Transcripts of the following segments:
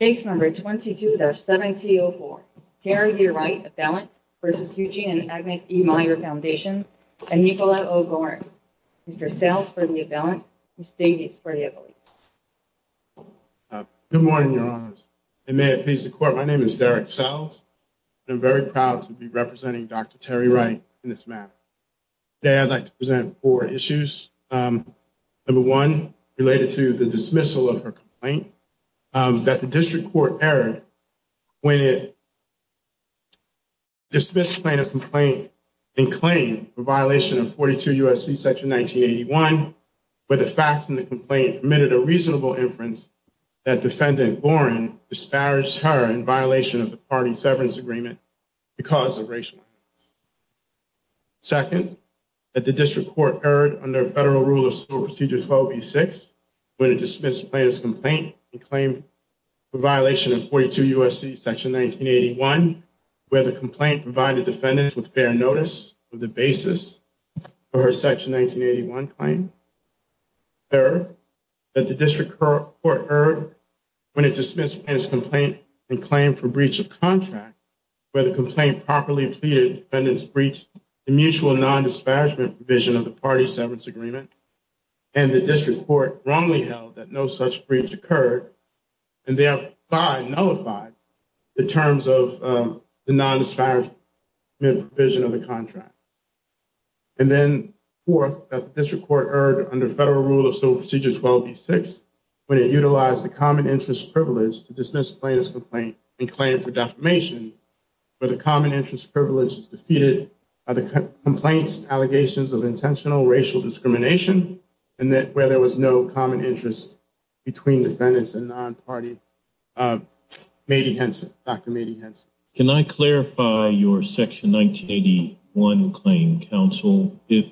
Case No. 22-7204, Terry V. Wright, Avalanche v. Eugene & Agnes E. Meyer Foundation, and Nicola O'Gorin. Mr. Sells for the Avalanche, Ms. Davies for the Avalanche. Good morning, Your Honors, and may it please the Court, my name is Derek Sells, and I'm very proud to be representing Dr. Terry Wright in this matter. Today I'd like to present four issues. Number one, related to the dismissal of her complaint. That the district court error when it dismissed a complaint in claim for violation of 42 U.S.C. section 1981, where the facts in the complaint admitted a reasonable inference that defendant O'Gorin disparaged her in violation of the party severance agreement because of racial. Second, that the district court erred under federal rule of civil procedure 1286 when it dismissed plaintiff's complaint in claim for violation of 42 U.S.C. section 1981, where the complaint provided defendants with fair notice of the basis for her section 1981 claim. Third, that the district court erred when it dismissed plaintiff's complaint in claim for breach of contract, where the complaint properly pleaded defendants breached the mutual non-disparagement provision of the party severance agreement, and the district court wrongly held that no such breach occurred, and therefore nullified the terms of the non-disparagement provision of the contract. And then, fourth, that the district court erred under federal rule of civil procedure 1286 when it utilized the common interest privilege to dismiss plaintiff's complaint in claim for defamation, where the common interest privilege is defeated by the complaint's allegations of intentional racial discrimination, and where there was no common interest between defendants and non-party. Mady Henson, Dr. Mady Henson. Can I clarify your section 1981 claim, counsel? If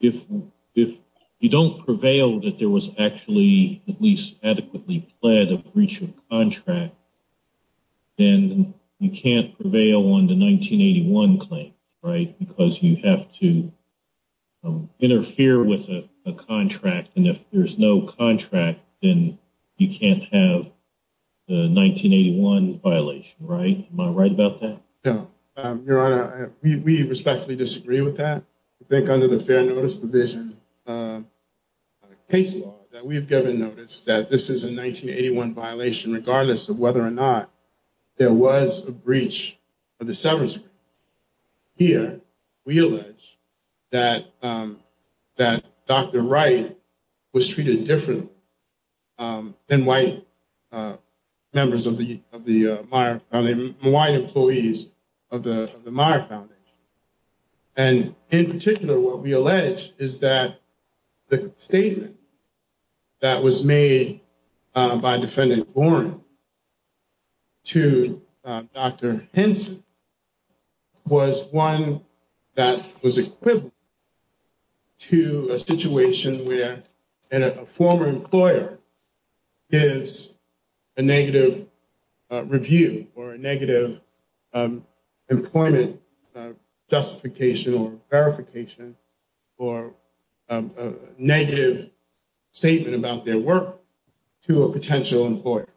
you don't prevail that there was actually at least adequately pled a breach of contract, then you can't prevail on the 1981 claim, right, because you have to interfere with a contract, and if there's no contract, then you can't have the 1981 violation, right? Am I right about that? Yeah. Your Honor, we respectfully disagree with that. I think under the Fair Notice Division case law that we've given notice that this is a 1981 violation, regardless of whether or not there was a breach of the severance agreement. Here, we allege that Dr. Wright was treated differently than white employees of the Meyer Foundation, and in particular, what we allege is that the statement that was made by Defendant Warren to Dr. Henson was one that was equivalent to a situation where a former employer gives a negative review or a negative employment justification or verification or negative statement about their work to a potential employer.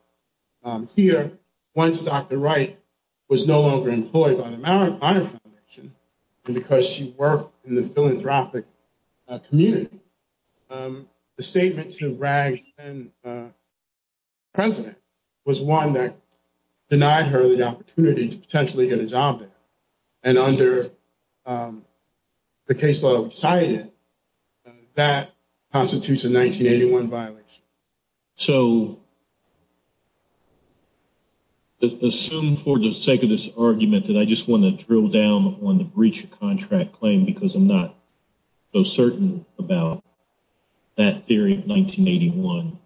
Here, once Dr. Wright was no longer employed by the Meyer Foundation, and because she worked in the philanthropic community, the statement to Rags' then-president was one that denied her the opportunity to potentially get a job there, and under the case law we cited, that constitutes a 1981 violation. So, assume for the sake of this argument that I just want to drill down on the breach of contract claim because I'm not so certain about that theory of 1981.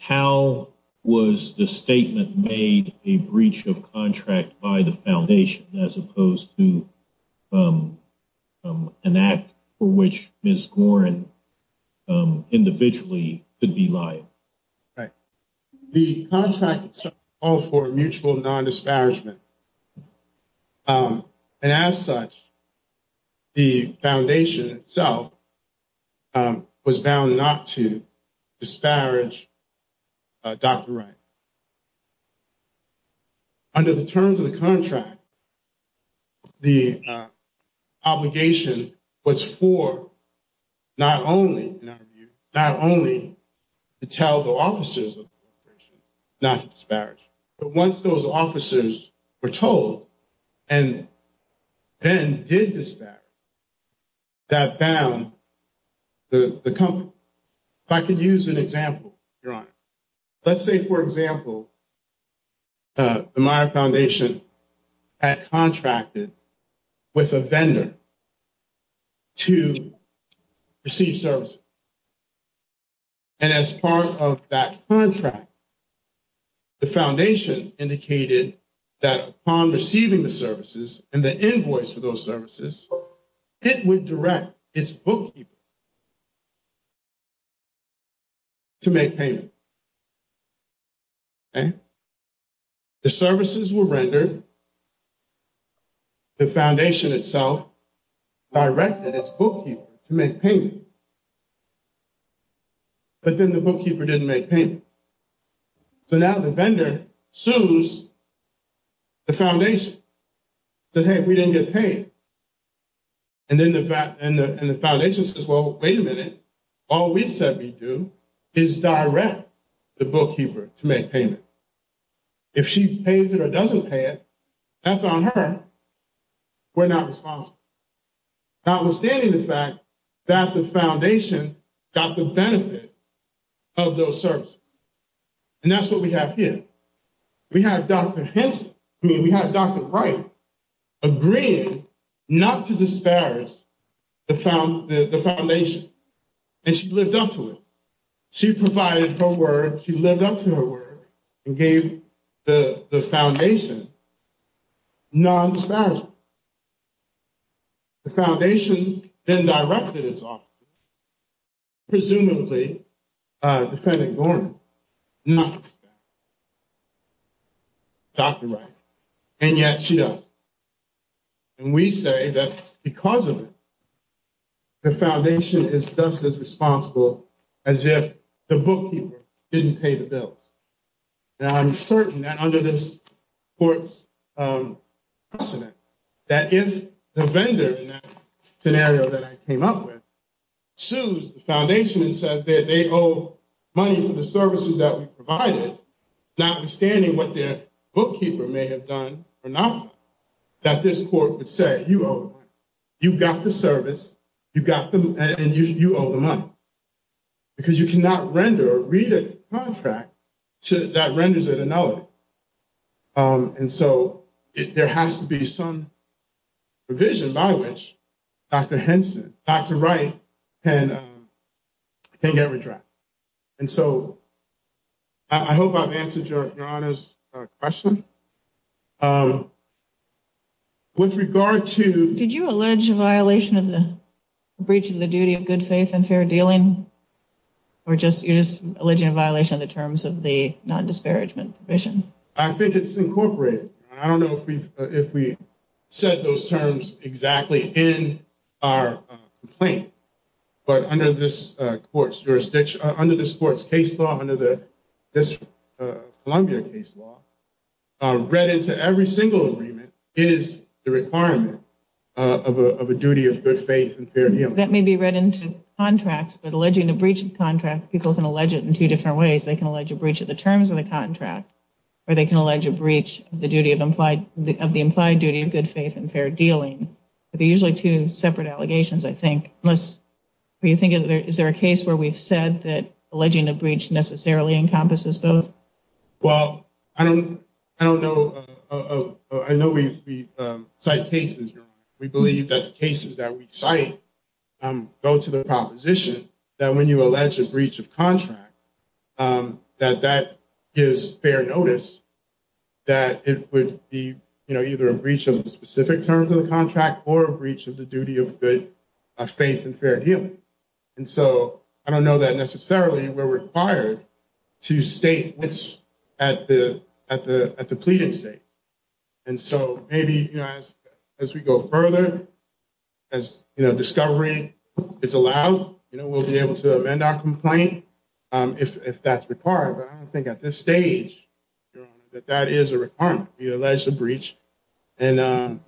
How was the statement made a breach of contract by the Foundation as opposed to an act for which Ms. Warren individually could be liable? The contract itself called for a mutual non-disparagement, and as such, the Foundation itself was bound not to disparage Dr. Wright. Under the terms of the contract, the obligation was for not only to tell the officers of the corporation not to disparage, but once those officers were told and then did disparage, that bound the company. If I could use an example, Your Honor. Let's say, for example, the Meyer Foundation had contracted with a vendor to receive services, and as part of that contract, the Foundation indicated that upon receiving the services and the invoice for those services, it would direct its bookkeeper to make payment. The services were rendered, the Foundation itself directed its bookkeeper to make payment, but then the bookkeeper didn't make payment. So now the vendor sues the Foundation that, hey, we didn't get paid, and then the Foundation says, well, wait a minute. All we said we'd do is direct the bookkeeper to make payment. If she pays it or doesn't pay it, that's on her. We're not responsible, notwithstanding the fact that the Foundation got the benefit of those services. And that's what we have here. We have Dr. Wright agreeing not to disparage the Foundation, and she lived up to it. She provided her word. She lived up to her word and gave the Foundation non-disparaging. The Foundation then directed its officer, presumably Defendant Gorham, not Dr. Wright, and yet she does. And we say that because of it, the Foundation is just as responsible as if the bookkeeper didn't pay the bills. Now, I'm certain that under this court's precedent, that if the vendor in that scenario that I came up with sues the Foundation and says that they owe money for the services that we provided, notwithstanding what their bookkeeper may have done or not, that this court would say, you owe the money. You've got the service, and you owe the money. Because you cannot render or read a contract that renders it a nullity. And so there has to be some provision by which Dr. Henson, Dr. Wright can get redressed. And so I hope I've answered Your Honor's question. With regard to... Did you allege a violation of the breach of the duty of good faith and fair dealing? Or you're just alleging a violation of the terms of the non-disparagement provision? I think it's incorporated. I don't know if we set those terms exactly in our complaint. But under this court's jurisdiction, under this court's case law, under this Columbia case law, read into every single agreement is the requirement of a duty of good faith and fair dealing. That may be read into contracts. But alleging a breach of contract, people can allege it in two different ways. They can allege a breach of the terms of the contract. Or they can allege a breach of the implied duty of good faith and fair dealing. But they're usually two separate allegations, I think. Is there a case where we've said that alleging a breach necessarily encompasses both? Well, I don't know. I know we cite cases. We believe that the cases that we cite go to the proposition that when you allege a breach of contract, that that gives fair notice, that it would be either a breach of the specific terms of the contract or a breach of the duty of good faith and fair dealing. And so I don't know that necessarily we're required to state which at the pleading state. And so maybe as we go further, as discovery is allowed, we'll be able to amend our complaint. If that's required. But I don't think at this stage, Your Honor, that that is a requirement. We allege a breach and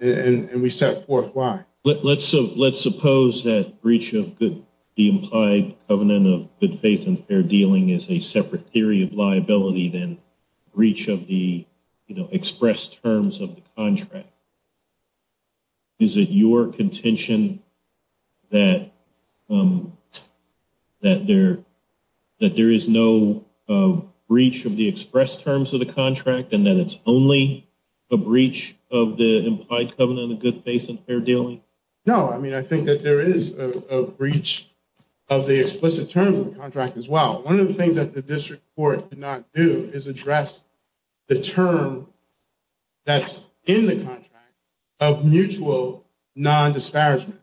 we set forth why. Let's suppose that breach of the implied covenant of good faith and fair dealing is a separate theory of liability than breach of the expressed terms of the contract. Is it your contention that there is no breach of the express terms of the contract and that it's only a breach of the implied covenant of good faith and fair dealing? No, I mean, I think that there is a breach of the explicit terms of the contract as well. One of the things that the district court did not do is address the term that's in the contract of mutual non disparagement.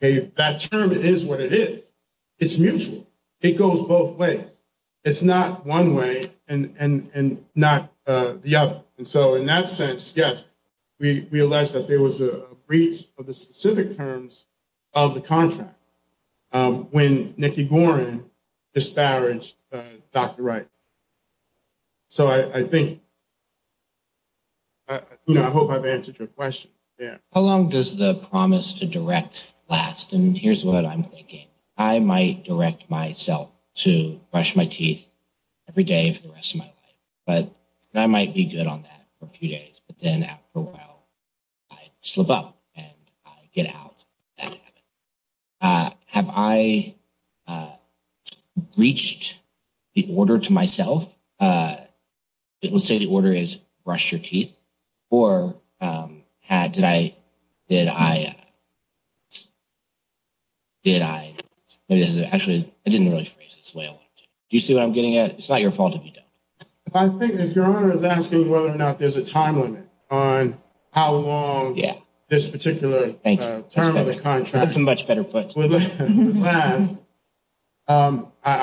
That term is what it is. It's mutual. It goes both ways. It's not one way and not the other. And so in that sense, yes, we allege that there was a breach of the specific terms of the contract. When Nikki Gorin disparaged Dr. Wright. So I think. I hope I've answered your question. Yeah. How long does the promise to direct last? And here's what I'm thinking. I might direct myself to brush my teeth every day for the rest of my life, but I might be good on that for a few days. But then after a while, I slip up and get out. Have I reached the order to myself? It would say the order is brush your teeth or had tonight that I. Did I. Actually, I didn't really phrase this way. Do you see what I'm getting at? It's not your fault if you don't. I think if you're asking whether or not there's a time limit on how long. Yeah. This particular term of the contract is a much better place. I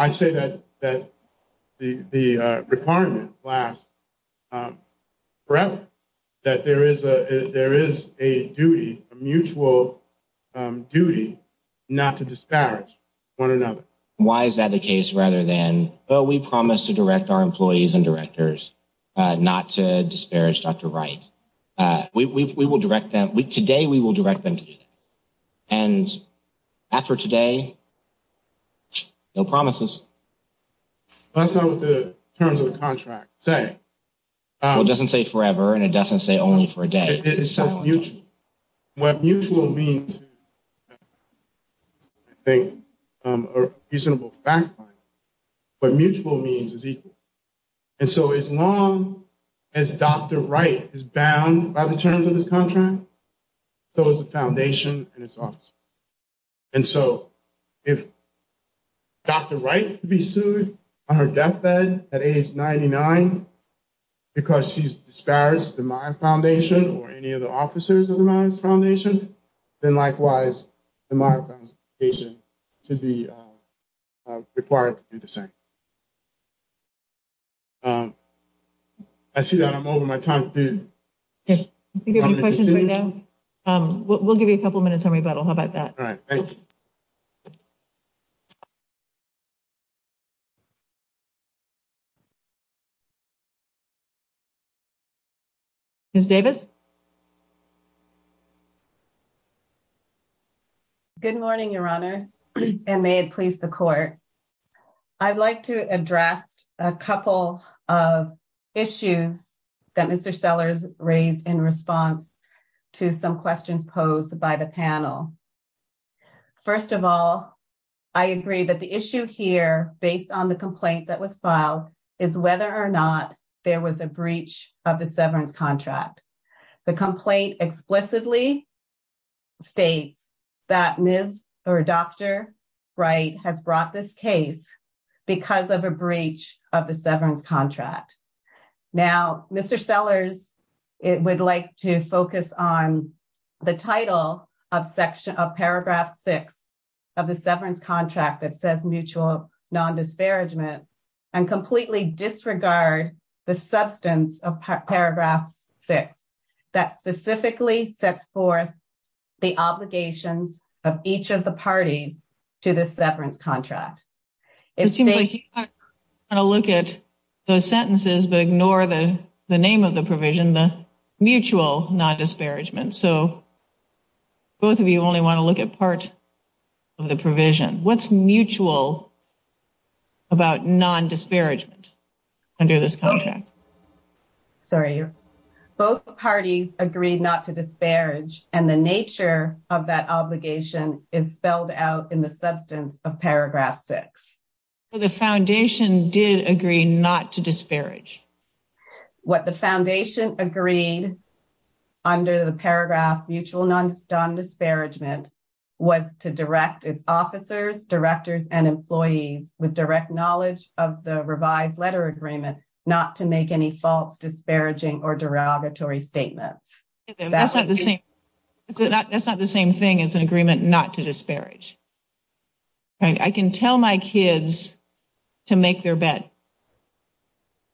say that that the requirement lasts forever. That there is a there is a duty, a mutual duty not to disparage one another. Why is that the case? Rather than, oh, we promise to direct our employees and directors not to disparage Dr. Wright. We will direct them today. We will direct them to do that. And after today. No promises. That's not what the terms of the contract say. It doesn't say forever and it doesn't say only for a day. It's mutual. What mutual means. I think a reasonable fact. What mutual means is equal. And so as long as Dr. Wright is bound by the terms of this contract. So is the foundation and its office. And so if. Dr. Wright be sued on her death bed at age ninety nine. Because she's disparaged the Meyer Foundation or any of the officers of the Meyers Foundation. Then likewise, the Meyers Foundation should be required to do the same. I see that I'm over my time. We'll give you a couple of minutes on rebuttal. How about that? All right. Miss Davis. Good morning, Your Honor, and may it please the court. I'd like to address a couple of issues that Mr. Sellers raised in response to some questions posed by the panel. First of all, I agree that the issue here based on the complaint that was filed is whether or not there was a breach of the severance contract. The complaint explicitly. States that Ms. or Dr. Wright has brought this case. Because of a breach of the severance contract. Now, Mr. Sellers, it would like to focus on. The title of section of paragraph 6. Of the severance contract that says mutual non disparagement and completely disregard the substance of paragraph 6. That specifically sets forth the obligations of each of the parties to the severance contract. It seems like you want to look at those sentences, but ignore the name of the provision, the mutual non disparagement. So, both of you only want to look at part. Of the provision what's mutual. About non disparagement under this contract. Sorry, both parties agreed not to disparage and the nature of that obligation is spelled out in the substance of paragraph 6. The foundation did agree not to disparage. What the foundation agreed under the paragraph mutual non disparagement. Was to direct its officers directors and employees with direct knowledge of the revised letter agreement, not to make any false disparaging or derogatory statements. That's not the same. That's not the same thing as an agreement not to disparage. I can tell my kids. To make their bed.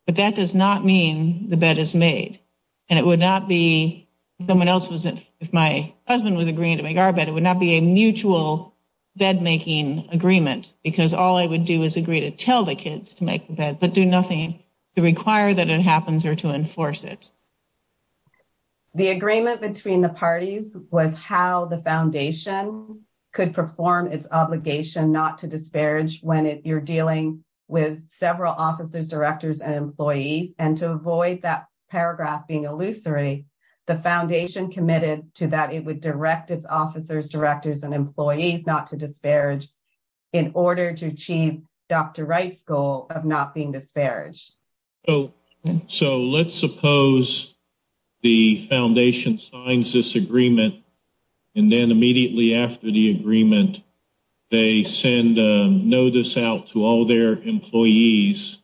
But that does not mean the bed is made. And it would not be someone else was if my husband was agreeing to make our bed, it would not be a mutual bed making agreement because all I would do is agree to tell the kids to make the bed, but do nothing to require that it happens or to enforce it. The agreement between the parties was how the foundation could perform its obligation not to disparage when you're dealing with several officers directors and employees and to avoid that paragraph being illusory. The foundation committed to that it would direct its officers directors and employees not to disparage. In order to achieve Dr. Wright's goal of not being disparaged. So, so let's suppose the foundation signs this agreement. And then immediately after the agreement, they send a notice out to all their employees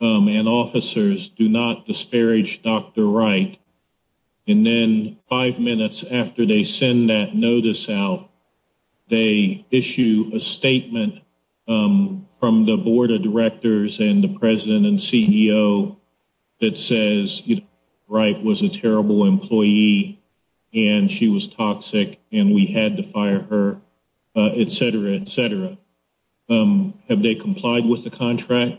and officers do not disparage Dr. Wright. And then five minutes after they send that notice out, they issue a statement from the board of directors and the president and CEO that says, right was a terrible employee. And she was toxic and we had to fire her, et cetera, et cetera. Have they complied with the contract?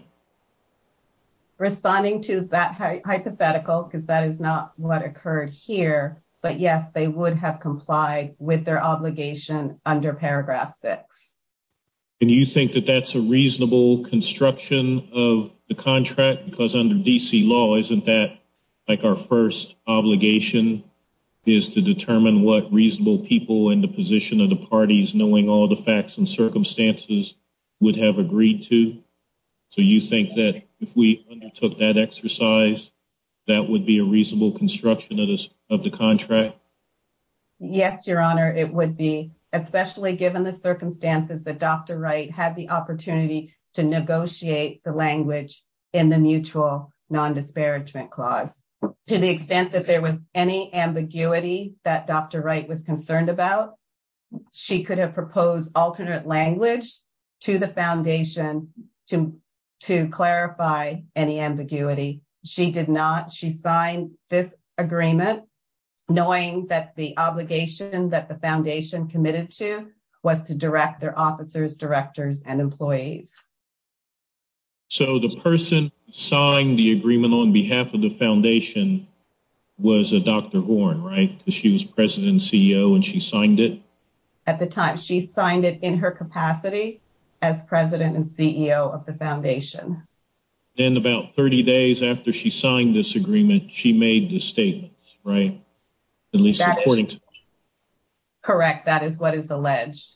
Responding to that hypothetical, because that is not what occurred here. But, yes, they would have complied with their obligation under paragraph six. And you think that that's a reasonable construction of the contract because under DC law, isn't that? Like, our 1st obligation is to determine what reasonable people in the position of the parties, knowing all the facts and circumstances would have agreed to. So, you think that if we undertook that exercise, that would be a reasonable construction of the contract? Yes, your honor, it would be especially given the circumstances that Dr. Wright had the opportunity to negotiate the language in the mutual non disparagement clause to the extent that there was any ambiguity that Dr. Wright was concerned about. She could have proposed alternate language to the foundation to to clarify any ambiguity. She did not. She signed this agreement, knowing that the obligation that the foundation committed to was to direct their officers, directors and employees. So, the person signed the agreement on behalf of the foundation was a Dr. Horne, right? She was president CEO and she signed it at the time. She signed it in her capacity as president and CEO of the foundation. And about 30 days after she signed this agreement, she made the statement, right? At least according to correct. That is what is alleged.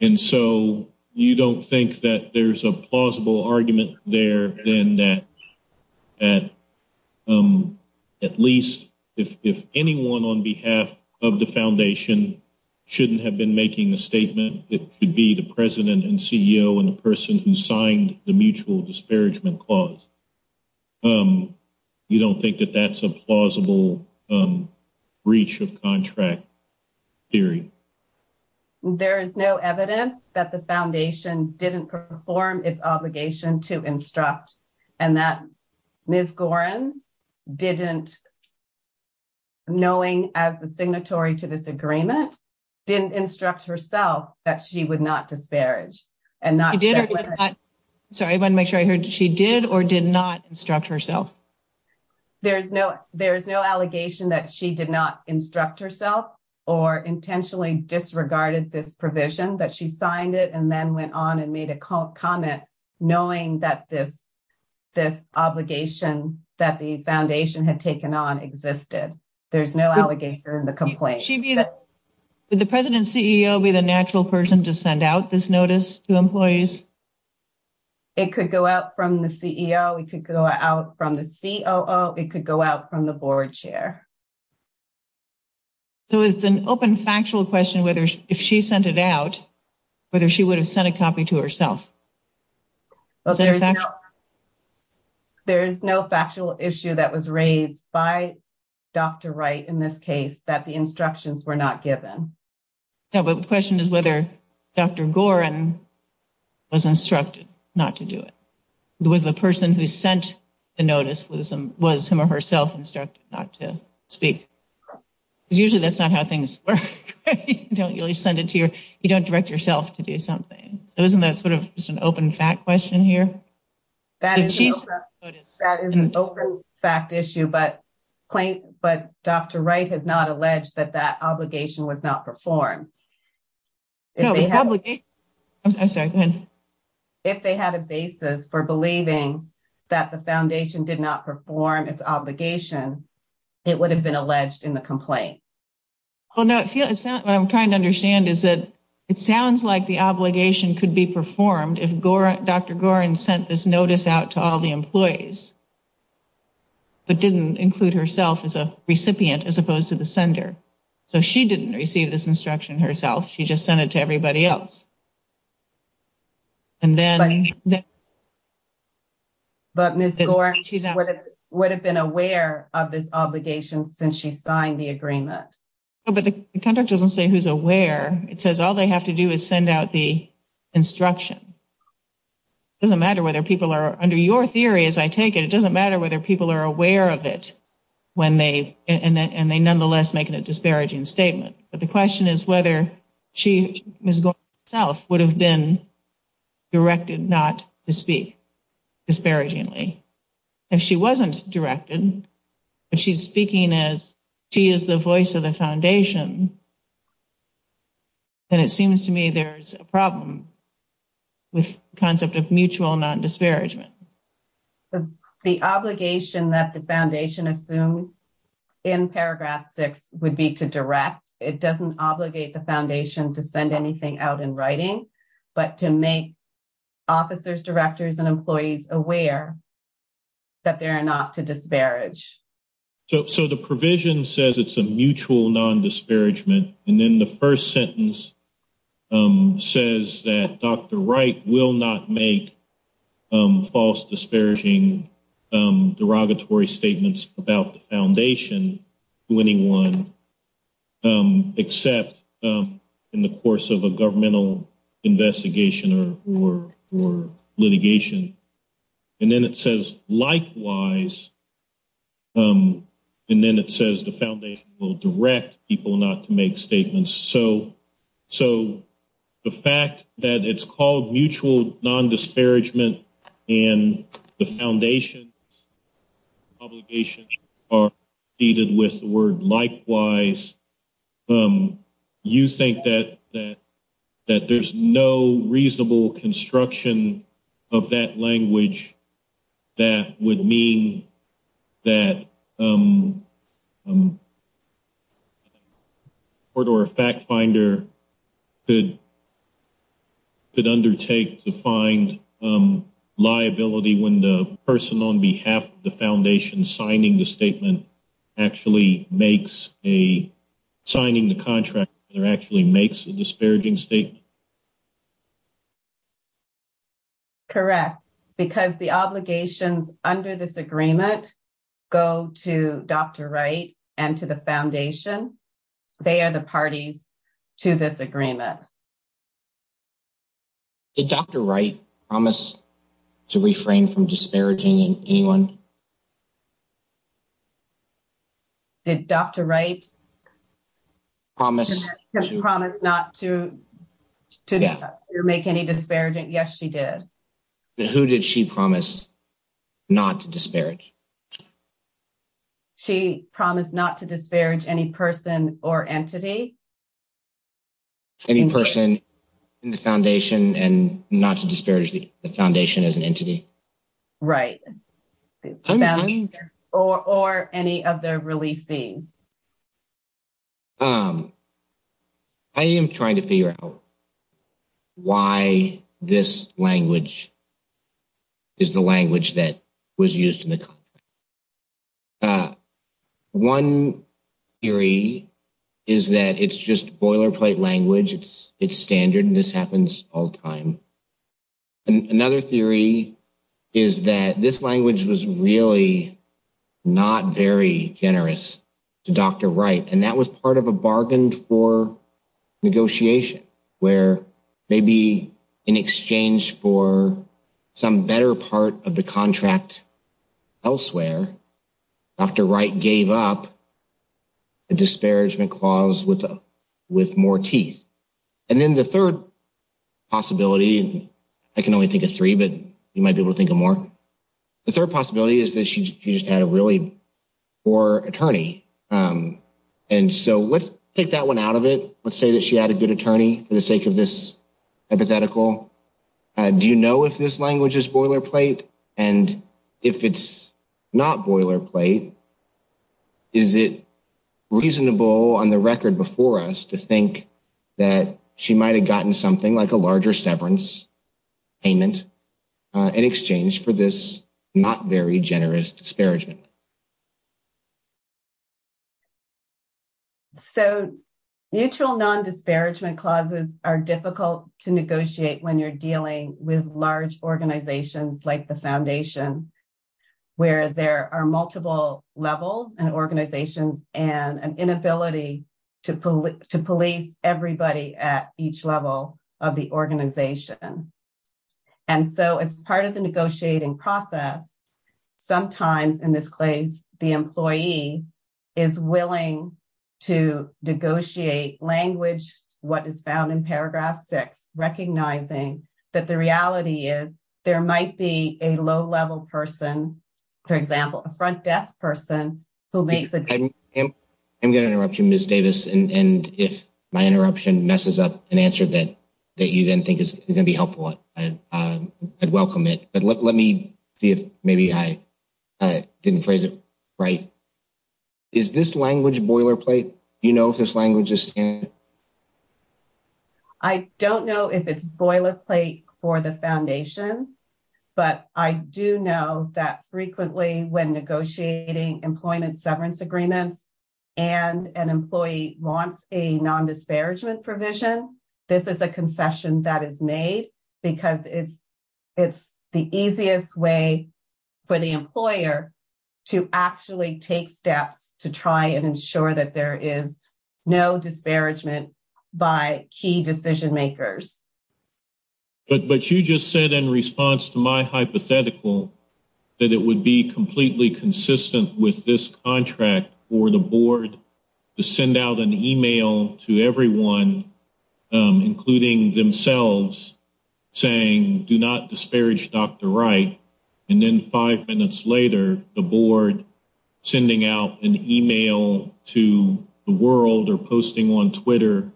And so you don't think that there's a plausible argument there, then that at least if anyone on behalf of the foundation shouldn't have been making a statement, it would be the president and CEO and the person who signed the mutual disparagement clause. You don't think that that's a plausible breach of contract theory. There is no evidence that the foundation didn't perform its obligation to instruct and that Ms. Gorin didn't. Knowing as the signatory to this agreement, didn't instruct herself that she would not disparage and not did. So I want to make sure I heard she did or did not instruct herself. There is no there is no allegation that she did not instruct herself or intentionally disregarded this provision that she signed it and then went on and made a comment. Knowing that this, this obligation that the foundation had taken on existed. There's no allegation in the complaint. She'd be the president CEO be the natural person to send out this notice to employees. It could go out from the CEO. We could go out from the CEO. It could go out from the board chair. So it's an open factual question whether if she sent it out, whether she would have sent a copy to herself. There is no factual issue that was raised by Dr. Wright in this case that the instructions were not given. Yeah, but the question is whether Dr. Gorin was instructed not to do it with the person who sent the notice with some was him or herself instructed not to speak because usually that's not how things work. Don't really send it to you. You don't direct yourself to do something. It wasn't that sort of just an open fact question here. That is an open fact issue. But, but Dr. Wright has not alleged that that obligation was not performed. If they had a basis for believing that the foundation did not perform its obligation. It would have been alleged in the complaint. Well, no, it's not what I'm trying to understand is that it sounds like the obligation could be performed. If Dr. Gorin sent this notice out to all the employees. But didn't include herself as a recipient as opposed to the sender. So she didn't receive this instruction herself. She just sent it to everybody else. And then. But she would have been aware of this obligation since she signed the agreement. But the contract doesn't say who's aware. It says all they have to do is send out the instruction. It doesn't matter whether people are under your theory as I take it. It doesn't matter whether people are aware of it when they and they nonetheless making a disparaging statement. But the question is whether she was going south would have been. Directed not to speak disparagingly. If she wasn't directed. If she's speaking as she is the voice of the foundation. And it seems to me there's a problem. With concept of mutual non disparagement. The obligation that the foundation assumed. In paragraph 6 would be to direct. It doesn't obligate the foundation to send anything out in writing. But to make. Officers directors and employees aware. That there are not to disparage. So, so the provision says it's a mutual non disparagement. And then the 1st sentence. Says that Dr. Wright will not make. False disparaging derogatory statements about the foundation. To anyone. Except in the course of a governmental investigation or litigation. And then it says likewise. And then it says the foundation will direct people not to make statements. So, so. The fact that it's called mutual non disparagement. And the foundation. Obligation. Are needed with the word likewise. You think that that. That there's no reasonable construction. Of that language. That would mean. That. A. Or to a fact finder. Good. Could undertake to find liability when the person on behalf of the foundation signing the statement actually makes a signing the contract. They're actually makes a disparaging statement. Correct because the obligations under this agreement. Go to Dr right and to the foundation. They are the parties to this agreement. The doctor right promise to refrain from disparaging anyone. Did Dr right promise promise not to make any disparaging? Yes, she did. Who did she promise not to disparage? She promised not to disparage any person or entity. Any person in the foundation and not to disparage the foundation as an entity, right? Or, or any of their release things. I am trying to figure out why this language. Is the language that was used in the. 1 theory is that it's just boilerplate language. It's it's standard and this happens all time. Another theory is that this language was really. Not very generous to Dr right and that was part of a bargain for negotiation where maybe in exchange for some better part of the contract. Elsewhere, Dr right gave up. Disparagement clause with with more teeth and then the 3rd. Possibility I can only think of 3, but you might be able to think of more. The 3rd possibility is that she just had a really. Or attorney and so let's take that 1 out of it. Let's say that she had a good attorney for the sake of this. Hypothetical do, you know, if this language is boilerplate and if it's not boilerplate. Is it reasonable on the record before us to think that she might have gotten something like a larger severance. Payment in exchange for this not very generous disparagement. Okay. So mutual non disparagement clauses are difficult to negotiate when you're dealing with large organizations like the foundation. Where there are multiple levels and organizations and an inability to pull it to police everybody at each level of the organization. And so, as part of the negotiating process, sometimes in this place, the employee is willing to negotiate language. What is found in paragraph 6, recognizing that the reality is there might be a low level person. For example, a front desk person who makes it. I'm going to interrupt you miss Davis and if my interruption messes up an answer that that you then think is going to be helpful. I'd welcome it. But let me see if maybe I didn't phrase it right. Is this language boilerplate, you know, if this language is. I don't know if it's boilerplate for the foundation, but I do know that frequently when negotiating employment severance agreements. And an employee wants a non disparagement provision. This is a concession that is made because it's. It's the easiest way for the employer to actually take steps to try and ensure that there is no disparagement by key decision makers. But, but you just said in response to my hypothetical that it would be completely consistent with this contract for the board to send out an email to everyone, including themselves. Saying, do not disparage Dr. Wright. And then 5 minutes later, the board sending out an email to the world or posting on Twitter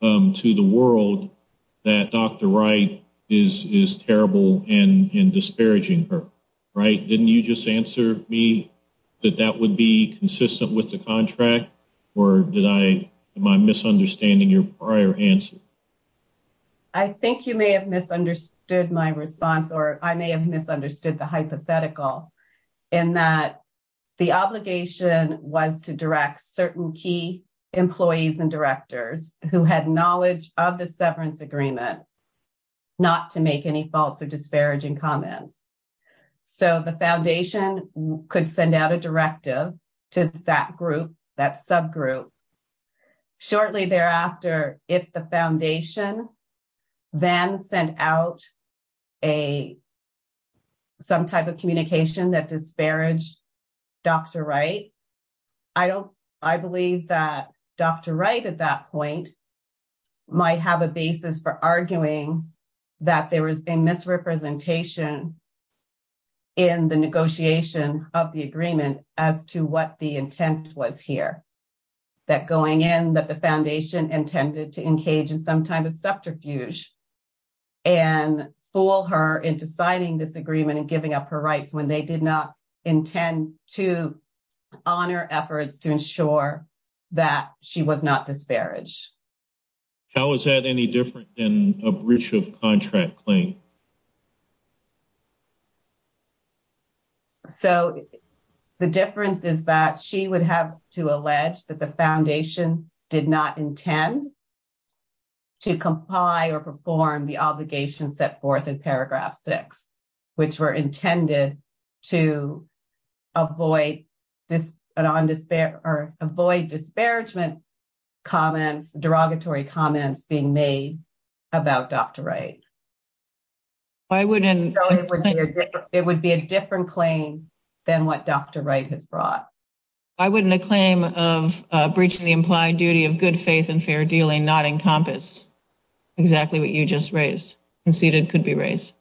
to the world that Dr. Wright is is terrible and disparaging her. Right. Didn't you just answer me that that would be consistent with the contract or did I am I misunderstanding your prior answer? You may have misunderstood my response, or I may have misunderstood the hypothetical. And that the obligation was to direct certain key employees and directors who had knowledge of the severance agreement. Not to make any faults or disparaging comments, so the foundation could send out a directive to that group that subgroup. Shortly thereafter, if the foundation. Then sent out a. Some type of communication that disparage. Dr, right, I don't, I believe that Dr. right at that point. Might have a basis for arguing that there was a misrepresentation. In the negotiation of the agreement as to what the intent was here. That going in that the foundation intended to engage in some type of subterfuge. And fool her into signing this agreement and giving up her rights when they did not intend to. Honor efforts to ensure that she was not disparage. How is that any different than a breach of contract claim? So, the difference is that she would have to allege that the foundation did not intend. To comply or perform the obligation set forth in paragraph 6. Which were intended to. Avoid this or avoid disparagement. Comments derogatory comments being made. About Dr. right. I wouldn't it would be a different claim than what Dr. right has brought. I wouldn't a claim of breaching the implied duty of good faith and fair dealing, not encompass. Exactly what you just raised and seated could be raised.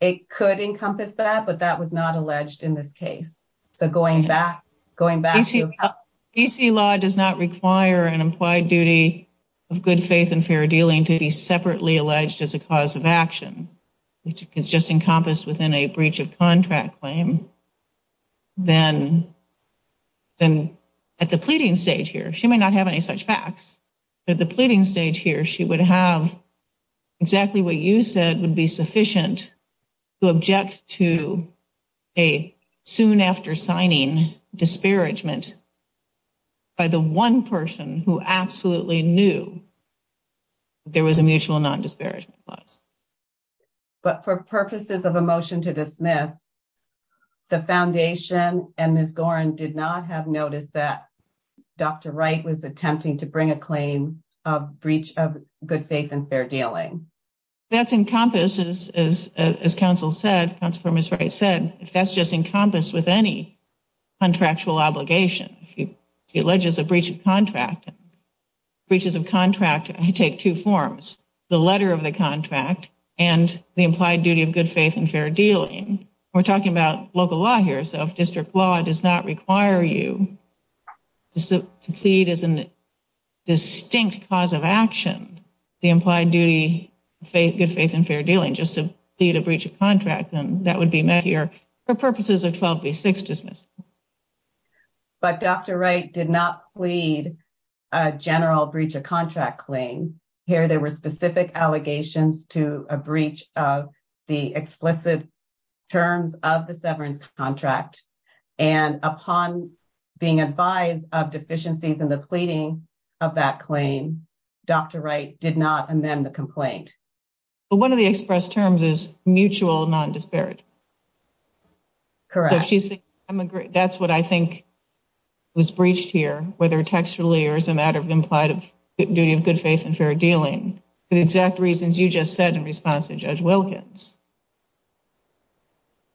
It could encompass that, but that was not alleged in this case. So, going back. DC law does not require an implied duty. Of good faith and fair dealing to be separately alleged as a cause of action. Which is just encompassed within a breach of contract claim. Then. Then at the pleading stage here, she may not have any such facts. At the pleading stage here, she would have. Exactly what you said would be sufficient. Object to a soon after signing disparagement. By the 1 person who absolutely knew. There was a mutual non disparage. But for purposes of a motion to dismiss. The foundation and Ms. Gorin did not have noticed that. Dr. right was attempting to bring a claim of breach of good faith and fair dealing. That's encompasses as as counsel said, comes from his right said, if that's just encompassed with any. Contractual obligation, if he alleges a breach of contract. Breaches of contract, I take 2 forms. The letter of the contract and the implied duty of good faith and fair dealing. We're talking about local law here. So, if district law does not require you. To plead as a distinct cause of action. The implied duty faith, good faith and fair dealing just to be to breach of contract. And that would be met here. For purposes of 12, be 6 dismissed, but Dr. Wright did not plead. A general breach of contract claim here, there were specific allegations to a breach of the explicit. Terms of the severance contract and upon. Being advised of deficiencies in the pleading of that claim. Dr. Wright did not amend the complaint. But 1 of the express terms is mutual non disparate. Correct. That's what I think. Was breached here, whether textually or as a matter of implied duty of good faith and fair dealing. The exact reasons you just said in response to judge Wilkins.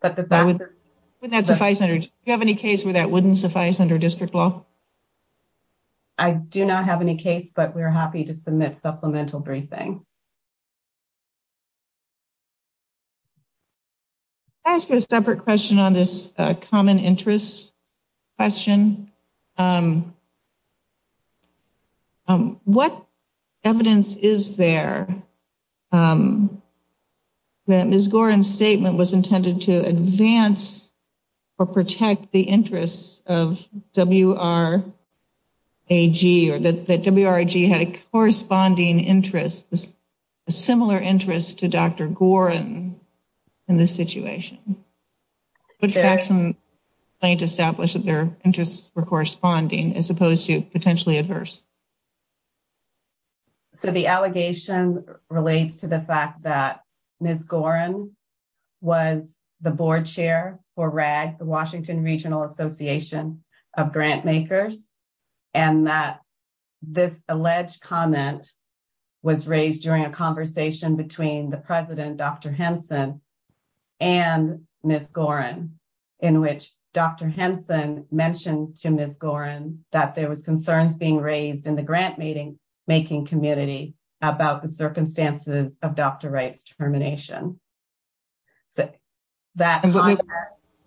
But that's if I have any case where that wouldn't suffice under district law. I do not have any case, but we're happy to submit supplemental briefing. Ask you a separate question on this common interest. Question. What evidence is there? That is Goran statement was intended to advance. Or protect the interests of W. R. A, G, or that had a corresponding interest. A similar interest to Dr. Goran. In this situation. Plant establish that their interests were corresponding as opposed to potentially adverse. So, the allegation relates to the fact that. Was the board chair for rag, the Washington regional association. Of grant makers, and that this alleged comment. Was raised during a conversation between the president, Dr. Henson. And miss Goran, in which Dr. Henson mentioned to miss Goran that there was concerns being raised in the grant meeting. Making community about the circumstances of Dr. rights termination. So, that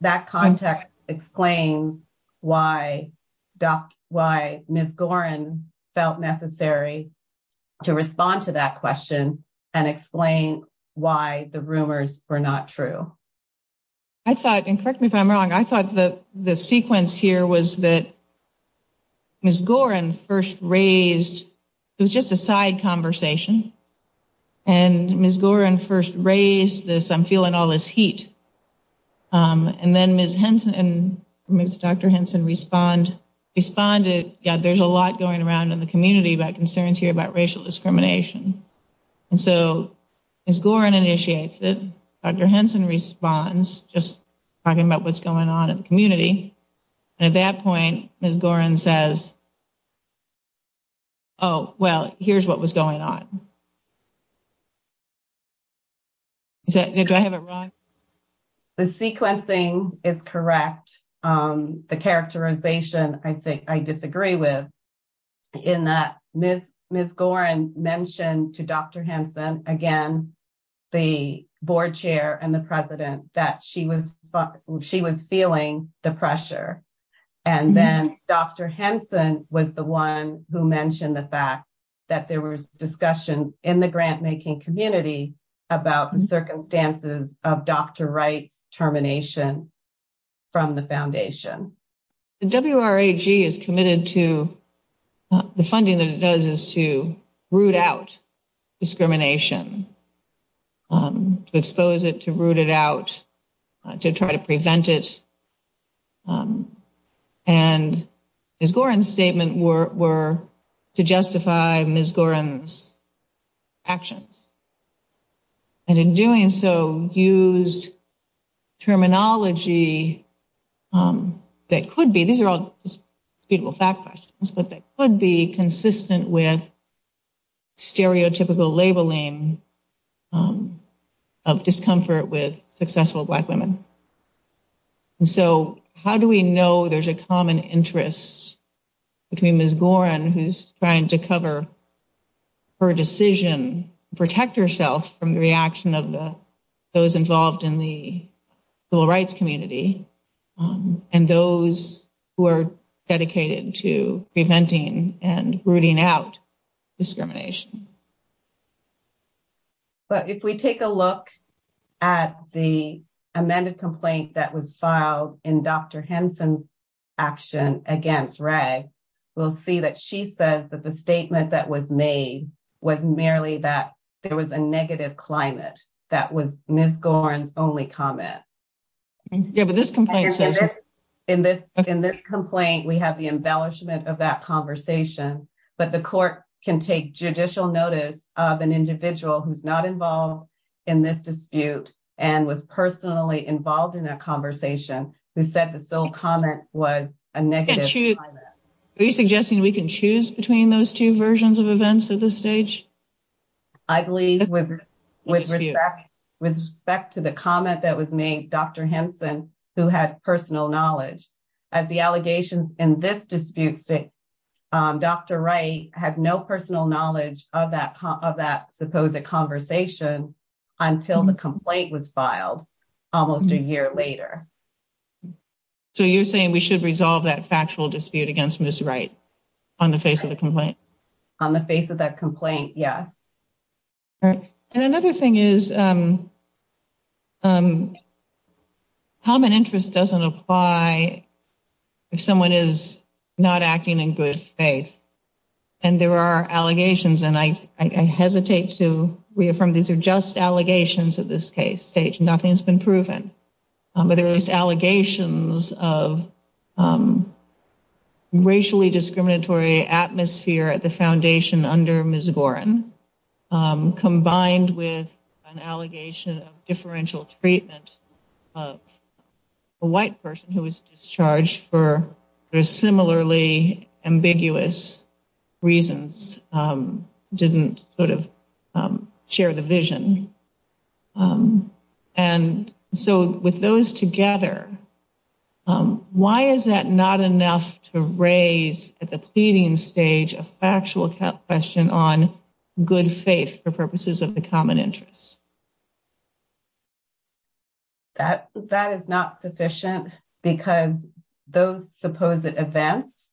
that contact explains. Why doc, why miss Goran. Felt necessary to respond to that question. And explain why the rumors were not true. I thought and correct me if I'm wrong. I thought that the sequence here was that. Miss Goran first raised. It was just a side conversation and miss Goran first raised this. I'm feeling all this heat. And then miss Henson and Dr. Henson respond. Responded. Yeah, there's a lot going around in the community, but concerns here about racial discrimination. And so. As Goran initiates it, Dr. Henson responds, just. Talking about what's going on in the community. And at that point, as Goran says. Oh, well, here's what was going on. Do I have it wrong? The sequencing is correct. The characterization I think I disagree with. In that miss miss Goran mentioned to Dr. Henson again. The board chair and the president that she was she was feeling the pressure. And then Dr. Henson was the 1 who mentioned the fact. That there was discussion in the grant making community about the circumstances of doctor rights termination. From the foundation is committed to. The funding that it does is to root out discrimination. Expose it to root it out to try to prevent it. And is Goran statement were were to justify Miss Goran's. Actions. And in doing so, used terminology. That could be these are all people fact questions, but they could be consistent with. Stereotypical labeling. Of discomfort with successful black women. So, how do we know there's a common interests. Between Miss Goran who's trying to cover. Her decision protect herself from the reaction of the. Those involved in the civil rights community. And those who are dedicated to preventing and rooting out. Discrimination, but if we take a look. At the amended complaint that was filed in Dr. Henson's. Action against Ray, we'll see that she says that the statement that was made. Was merely that there was a negative climate. That was Miss Goran's only comment. Yeah, but this complaint says in this in this complaint, we have the embellishment of that conversation, but the court can take judicial notice of an individual who's not involved. In this dispute and was personally involved in a conversation who said the sole comment was a negative. Are you suggesting we can choose between those 2 versions of events at this stage? I believe with respect to the comment that was made Dr. Henson who had personal knowledge. As the allegations in this disputes, Dr. Wright had no personal knowledge of that of that supposed a conversation until the complaint was filed almost a year later. So, you're saying we should resolve that factual dispute against Miss, right? On the face of the complaint on the face of that complaint. Yes. And another thing is. Common interest doesn't apply. If someone is not acting in good faith. And there are allegations and I hesitate to reaffirm. These are just allegations of this case stage. Nothing's been proven. But there is allegations of. Racially discriminatory atmosphere at the foundation under Miss Gorin combined with an allegation of differential treatment. A white person who was discharged for a similarly ambiguous reasons didn't sort of share the vision. And so with those together. Why is that not enough to raise at the pleading stage? A factual question on good faith for purposes of the common interest. That that is not sufficient because those supposed events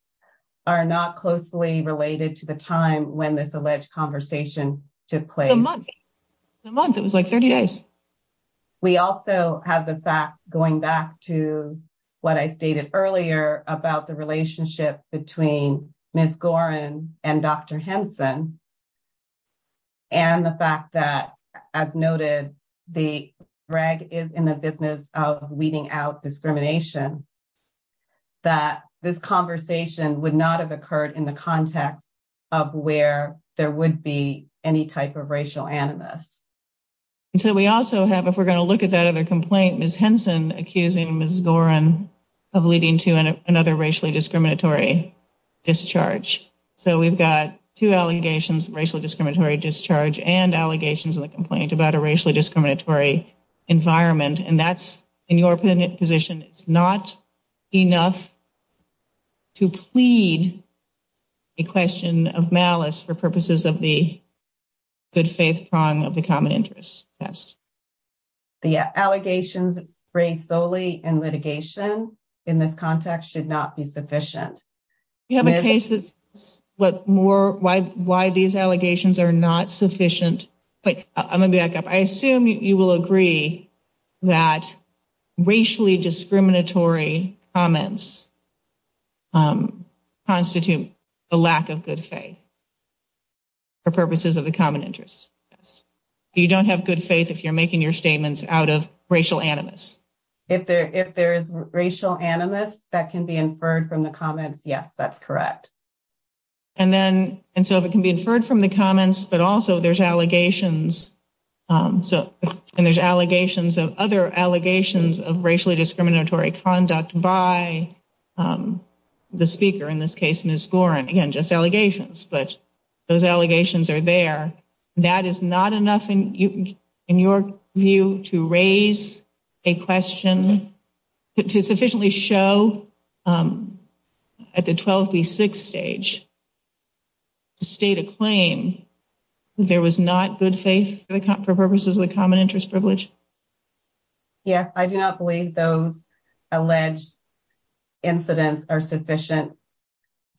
are not closely related to the time when this alleged conversation took place. It was like 30 days. We also have the fact going back to what I stated earlier about the relationship between Miss Gorin and Dr. That this conversation would not have occurred in the context of where there would be any type of racial animus. And so we also have, if we're going to look at that other complaint, Miss Henson accusing Miss Gorin of leading to another racially discriminatory discharge. So we've got two allegations, racial discriminatory discharge and allegations of the complaint about a racially discriminatory environment. And that's in your position. It's not enough. To plead. A question of malice for purposes of the. Good faith prong of the common interest. That's. Yeah, allegations raised solely in litigation in this context should not be sufficient. You have a case that's what more why why these allegations are not sufficient. But I'm going to back up. I assume you will agree that racially discriminatory comments. Constitute the lack of good faith. For purposes of the common interest. Yes, you don't have good faith if you're making your statements out of racial animus. If there if there is racial animus that can be inferred from the comments. Yes, that's correct. And then, and so it can be inferred from the comments, but also there's allegations. So, and there's allegations of other allegations of racially discriminatory conduct by. The speaker in this case, Miss Gorin, again, just allegations, but those allegations are there. That is not enough in your view to raise a question to sufficiently show. At the 12th, the sixth stage. State a claim. There was not good faith for purposes of the common interest privilege. Yes, I do not believe those alleged incidents are sufficient.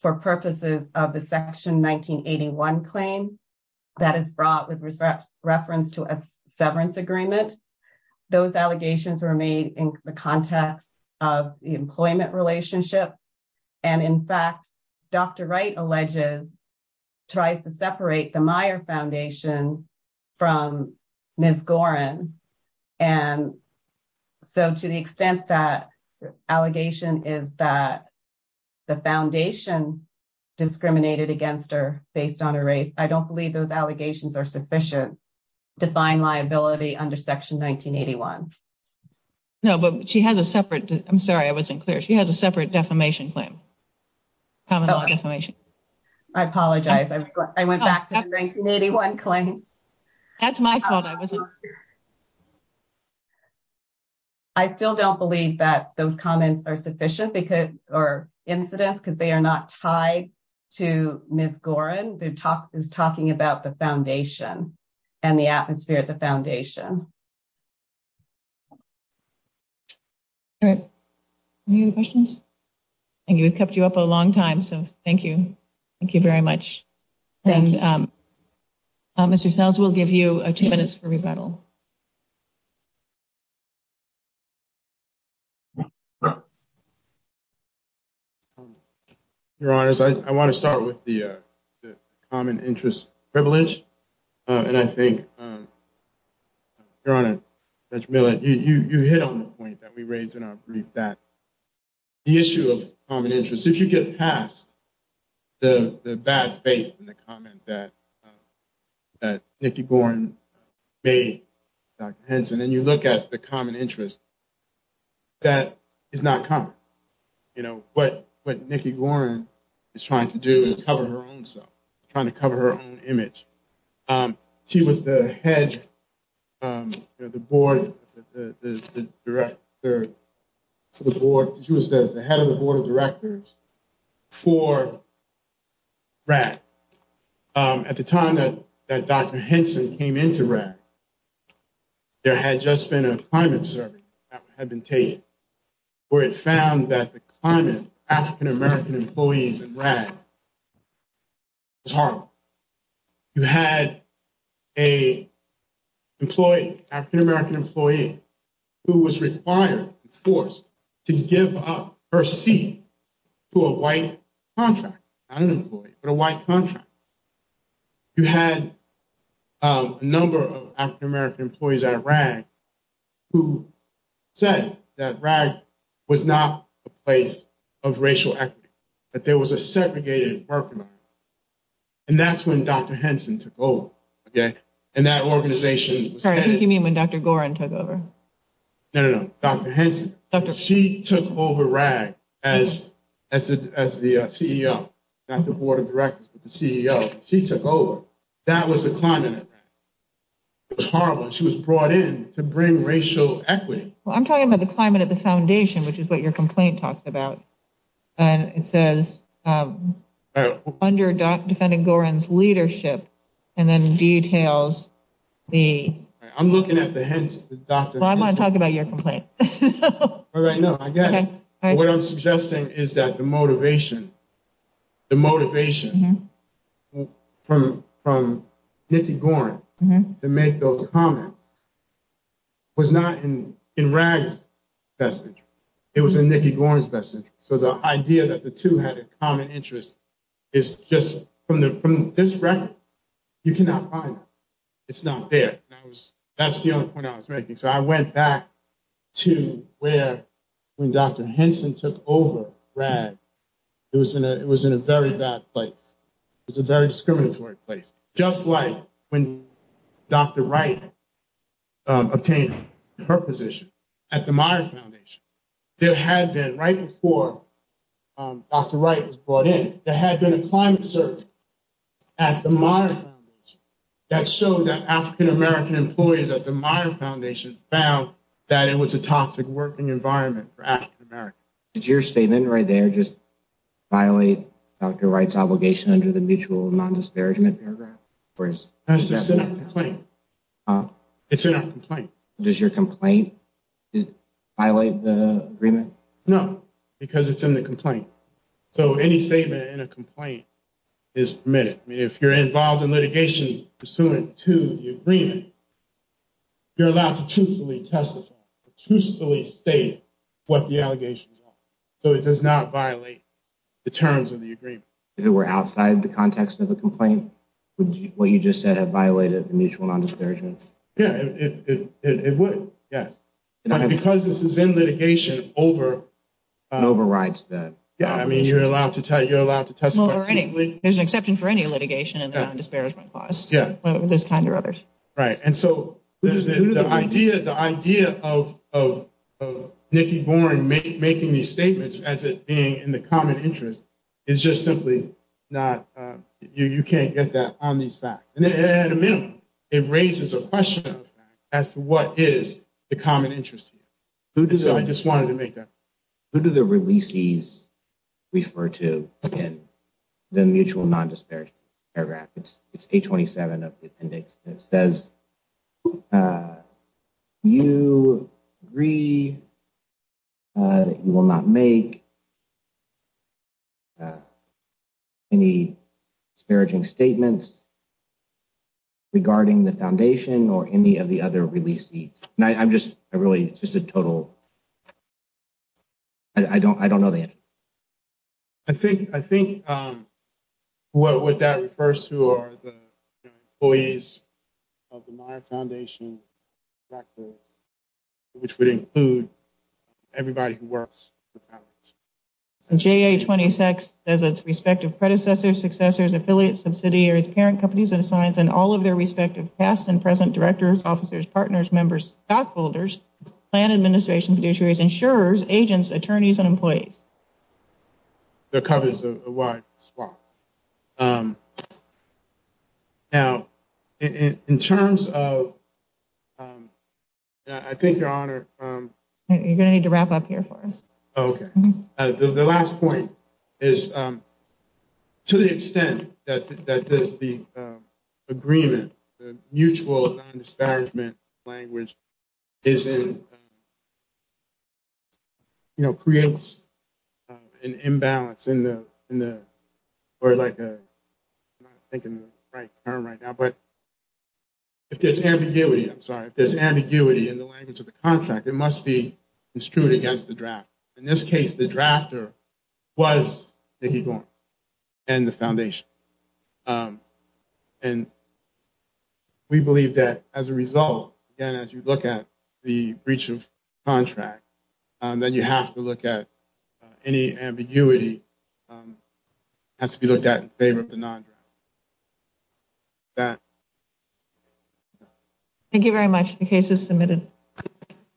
For purposes of the section 1981 claim that is brought with respect reference to a severance agreement. Those allegations were made in the context of the employment relationship. And in fact, Dr. Wright alleges. Tries to separate the Meyer foundation. From Miss Gorin and. So, to the extent that allegation is that. The foundation discriminated against her based on a race. I don't believe those allegations are sufficient. Define liability under section 1981. No, but she has a separate. I'm sorry. I wasn't clear. She has a separate defamation claim. I apologize. I went back to 1981 claim. That's my fault. I was. I still don't believe that those comments are sufficient because or incidents, because they are not tied to Miss Gorin. The talk is talking about the foundation. And the atmosphere at the foundation. All right. And you kept you up a long time. So, thank you. Thank you very much. And Mr. sales will give you a 2 minutes for rebuttal. Your honors, I want to start with the common interest privilege. And I think you're on it. You hit on the point that we raised in our brief that. The issue of common interest, if you get past. The bad faith in the comment that. That Nikki Gorin may. Hence, and then you look at the common interest. That is not common. You know what? What Nikki Gorin is trying to do is cover her own self. Trying to cover her own image. She was the head. The board. The director. The board. She was the head of the board of directors. For. Right. At the time that Dr. Henson came into. There had just been a climate survey. Had been taken. Where it found that the climate. African-American employees and. It's hard. You had. A. Employee. African-American employee. Who was required. Force to give up. Her seat. To a white. Contract. I don't know. But a white contract. You had. A number of African-American employees. At rag. Who. Said that rag. Was not. A place. Of racial equity. But there was a segregated parking lot. And that's when Dr. Henson took over. Okay. And that organization. You mean when Dr. Gorin took over. No, no, no. Dr. Henson. She took over rag. As. As the. CEO. Not the board of directors. But the CEO. She took over. That was the climate. It was horrible. She was brought in. To bring racial. Equity. Well, I'm talking about the climate. At the foundation. Which is what your complaint. Talks about. And it says. Under. Defending Gorin's. Leadership. And then details. The. I'm looking at the. Hence. The doctor. Well, I'm going to talk about your complaint. Well, I know. I get it. What I'm suggesting is that the motivation. The motivation. From. From. Nikki Gorin. To make those comments. Was not in. In rags. That's it. It was a Nikki Gorin's message. So the idea that the two had a common interest. Is just. From the from this record. You cannot find. It's not there. That was. That's the only point I was making. So I went back. To where. When Dr. Henson took over. Rad. It was in a. It was in a very bad place. It's a very discriminatory place. Just like. When. Dr. Wright. Obtained. Her position. At the Myers Foundation. There had been right before. Dr. Wright was brought in. There had been a climate search. At the Myers. That showed that African-American employees. At the Myers Foundation. Found. That it was a toxic. Working environment. For African-Americans. Is your statement right there? Just. Violate. Dr. Wright's obligation. Under the mutual. Non-disparagement paragraph. For his. It's in a complaint. Does your complaint. Violate the agreement. No. Because it's in the complaint. So any statement. In a complaint. Is. Not. Permitted. I mean, if you're involved in litigation. Pursuant to. The agreement. You're allowed to truthfully testify. Truthfully state. What the allegations are. So it does not violate. The terms of the agreement. If it were outside. The context of the complaint. Would you. What you just said have violated. The mutual non-disparagement. Yeah. It would. Yes. Because this is in litigation. Over. Overrides that. Yeah. I mean, you're allowed to tell. You're allowed to testify. There's an exception. For any litigation. In the non-disparagement. Clause. Yeah. This kind of. Right. And so. The idea. Of. Nikki. Born. Making these statements. As it being. In the common interest. Is just simply. Not. You can't. Get that. On these facts. At a minimum. It raises a question. As to what is. The common interest. Who does. I just wanted to make that. Who do the releases. Refer to. Again. The mutual non-disparagement. Paragraph. It's. It's a 27. Of the appendix. That says. You. Agree. You will not make. Any. Disparaging statements. Regarding the foundation. Or any of the other. Release. I'm just. I really. It's just a total. I don't. I don't know. The answer. To that. I think. I think. What would that. First. Who are the. Employees. Of the. My foundation. Which would include. Everybody. Who works. So. J. A. 26. As its. Respective predecessors. Successors. Affiliate. Subsidiaries. Parent companies. And science. And all of their respective. Past and present. Directors. Officers. Partners. Members. Stockholders. Plan administration. Insurers. Agents. Attorneys. And employees. The cover is. A wide. Spot. Now. In terms of. I think. Your honor. You're going to need to wrap up here for us. Okay. The last point. Is. To the extent. That. The. Agreement. Mutual. Disparagement. Language. Is in. You know. Creates. An imbalance. In the. Or like. I'm not. Thinking. The right term right now. But. If there's ambiguity. I'm sorry. If there's ambiguity. In the language of the contract. It must be. Construed against the draft. The drafter. Was. Nikki Gorman. And the foundation. And. We believe that. As a result. Again. As you look. The breach of. Contract. Then you have to look at. Any ambiguity. Has to be looked at. That. Thank you very much. The case is submitted.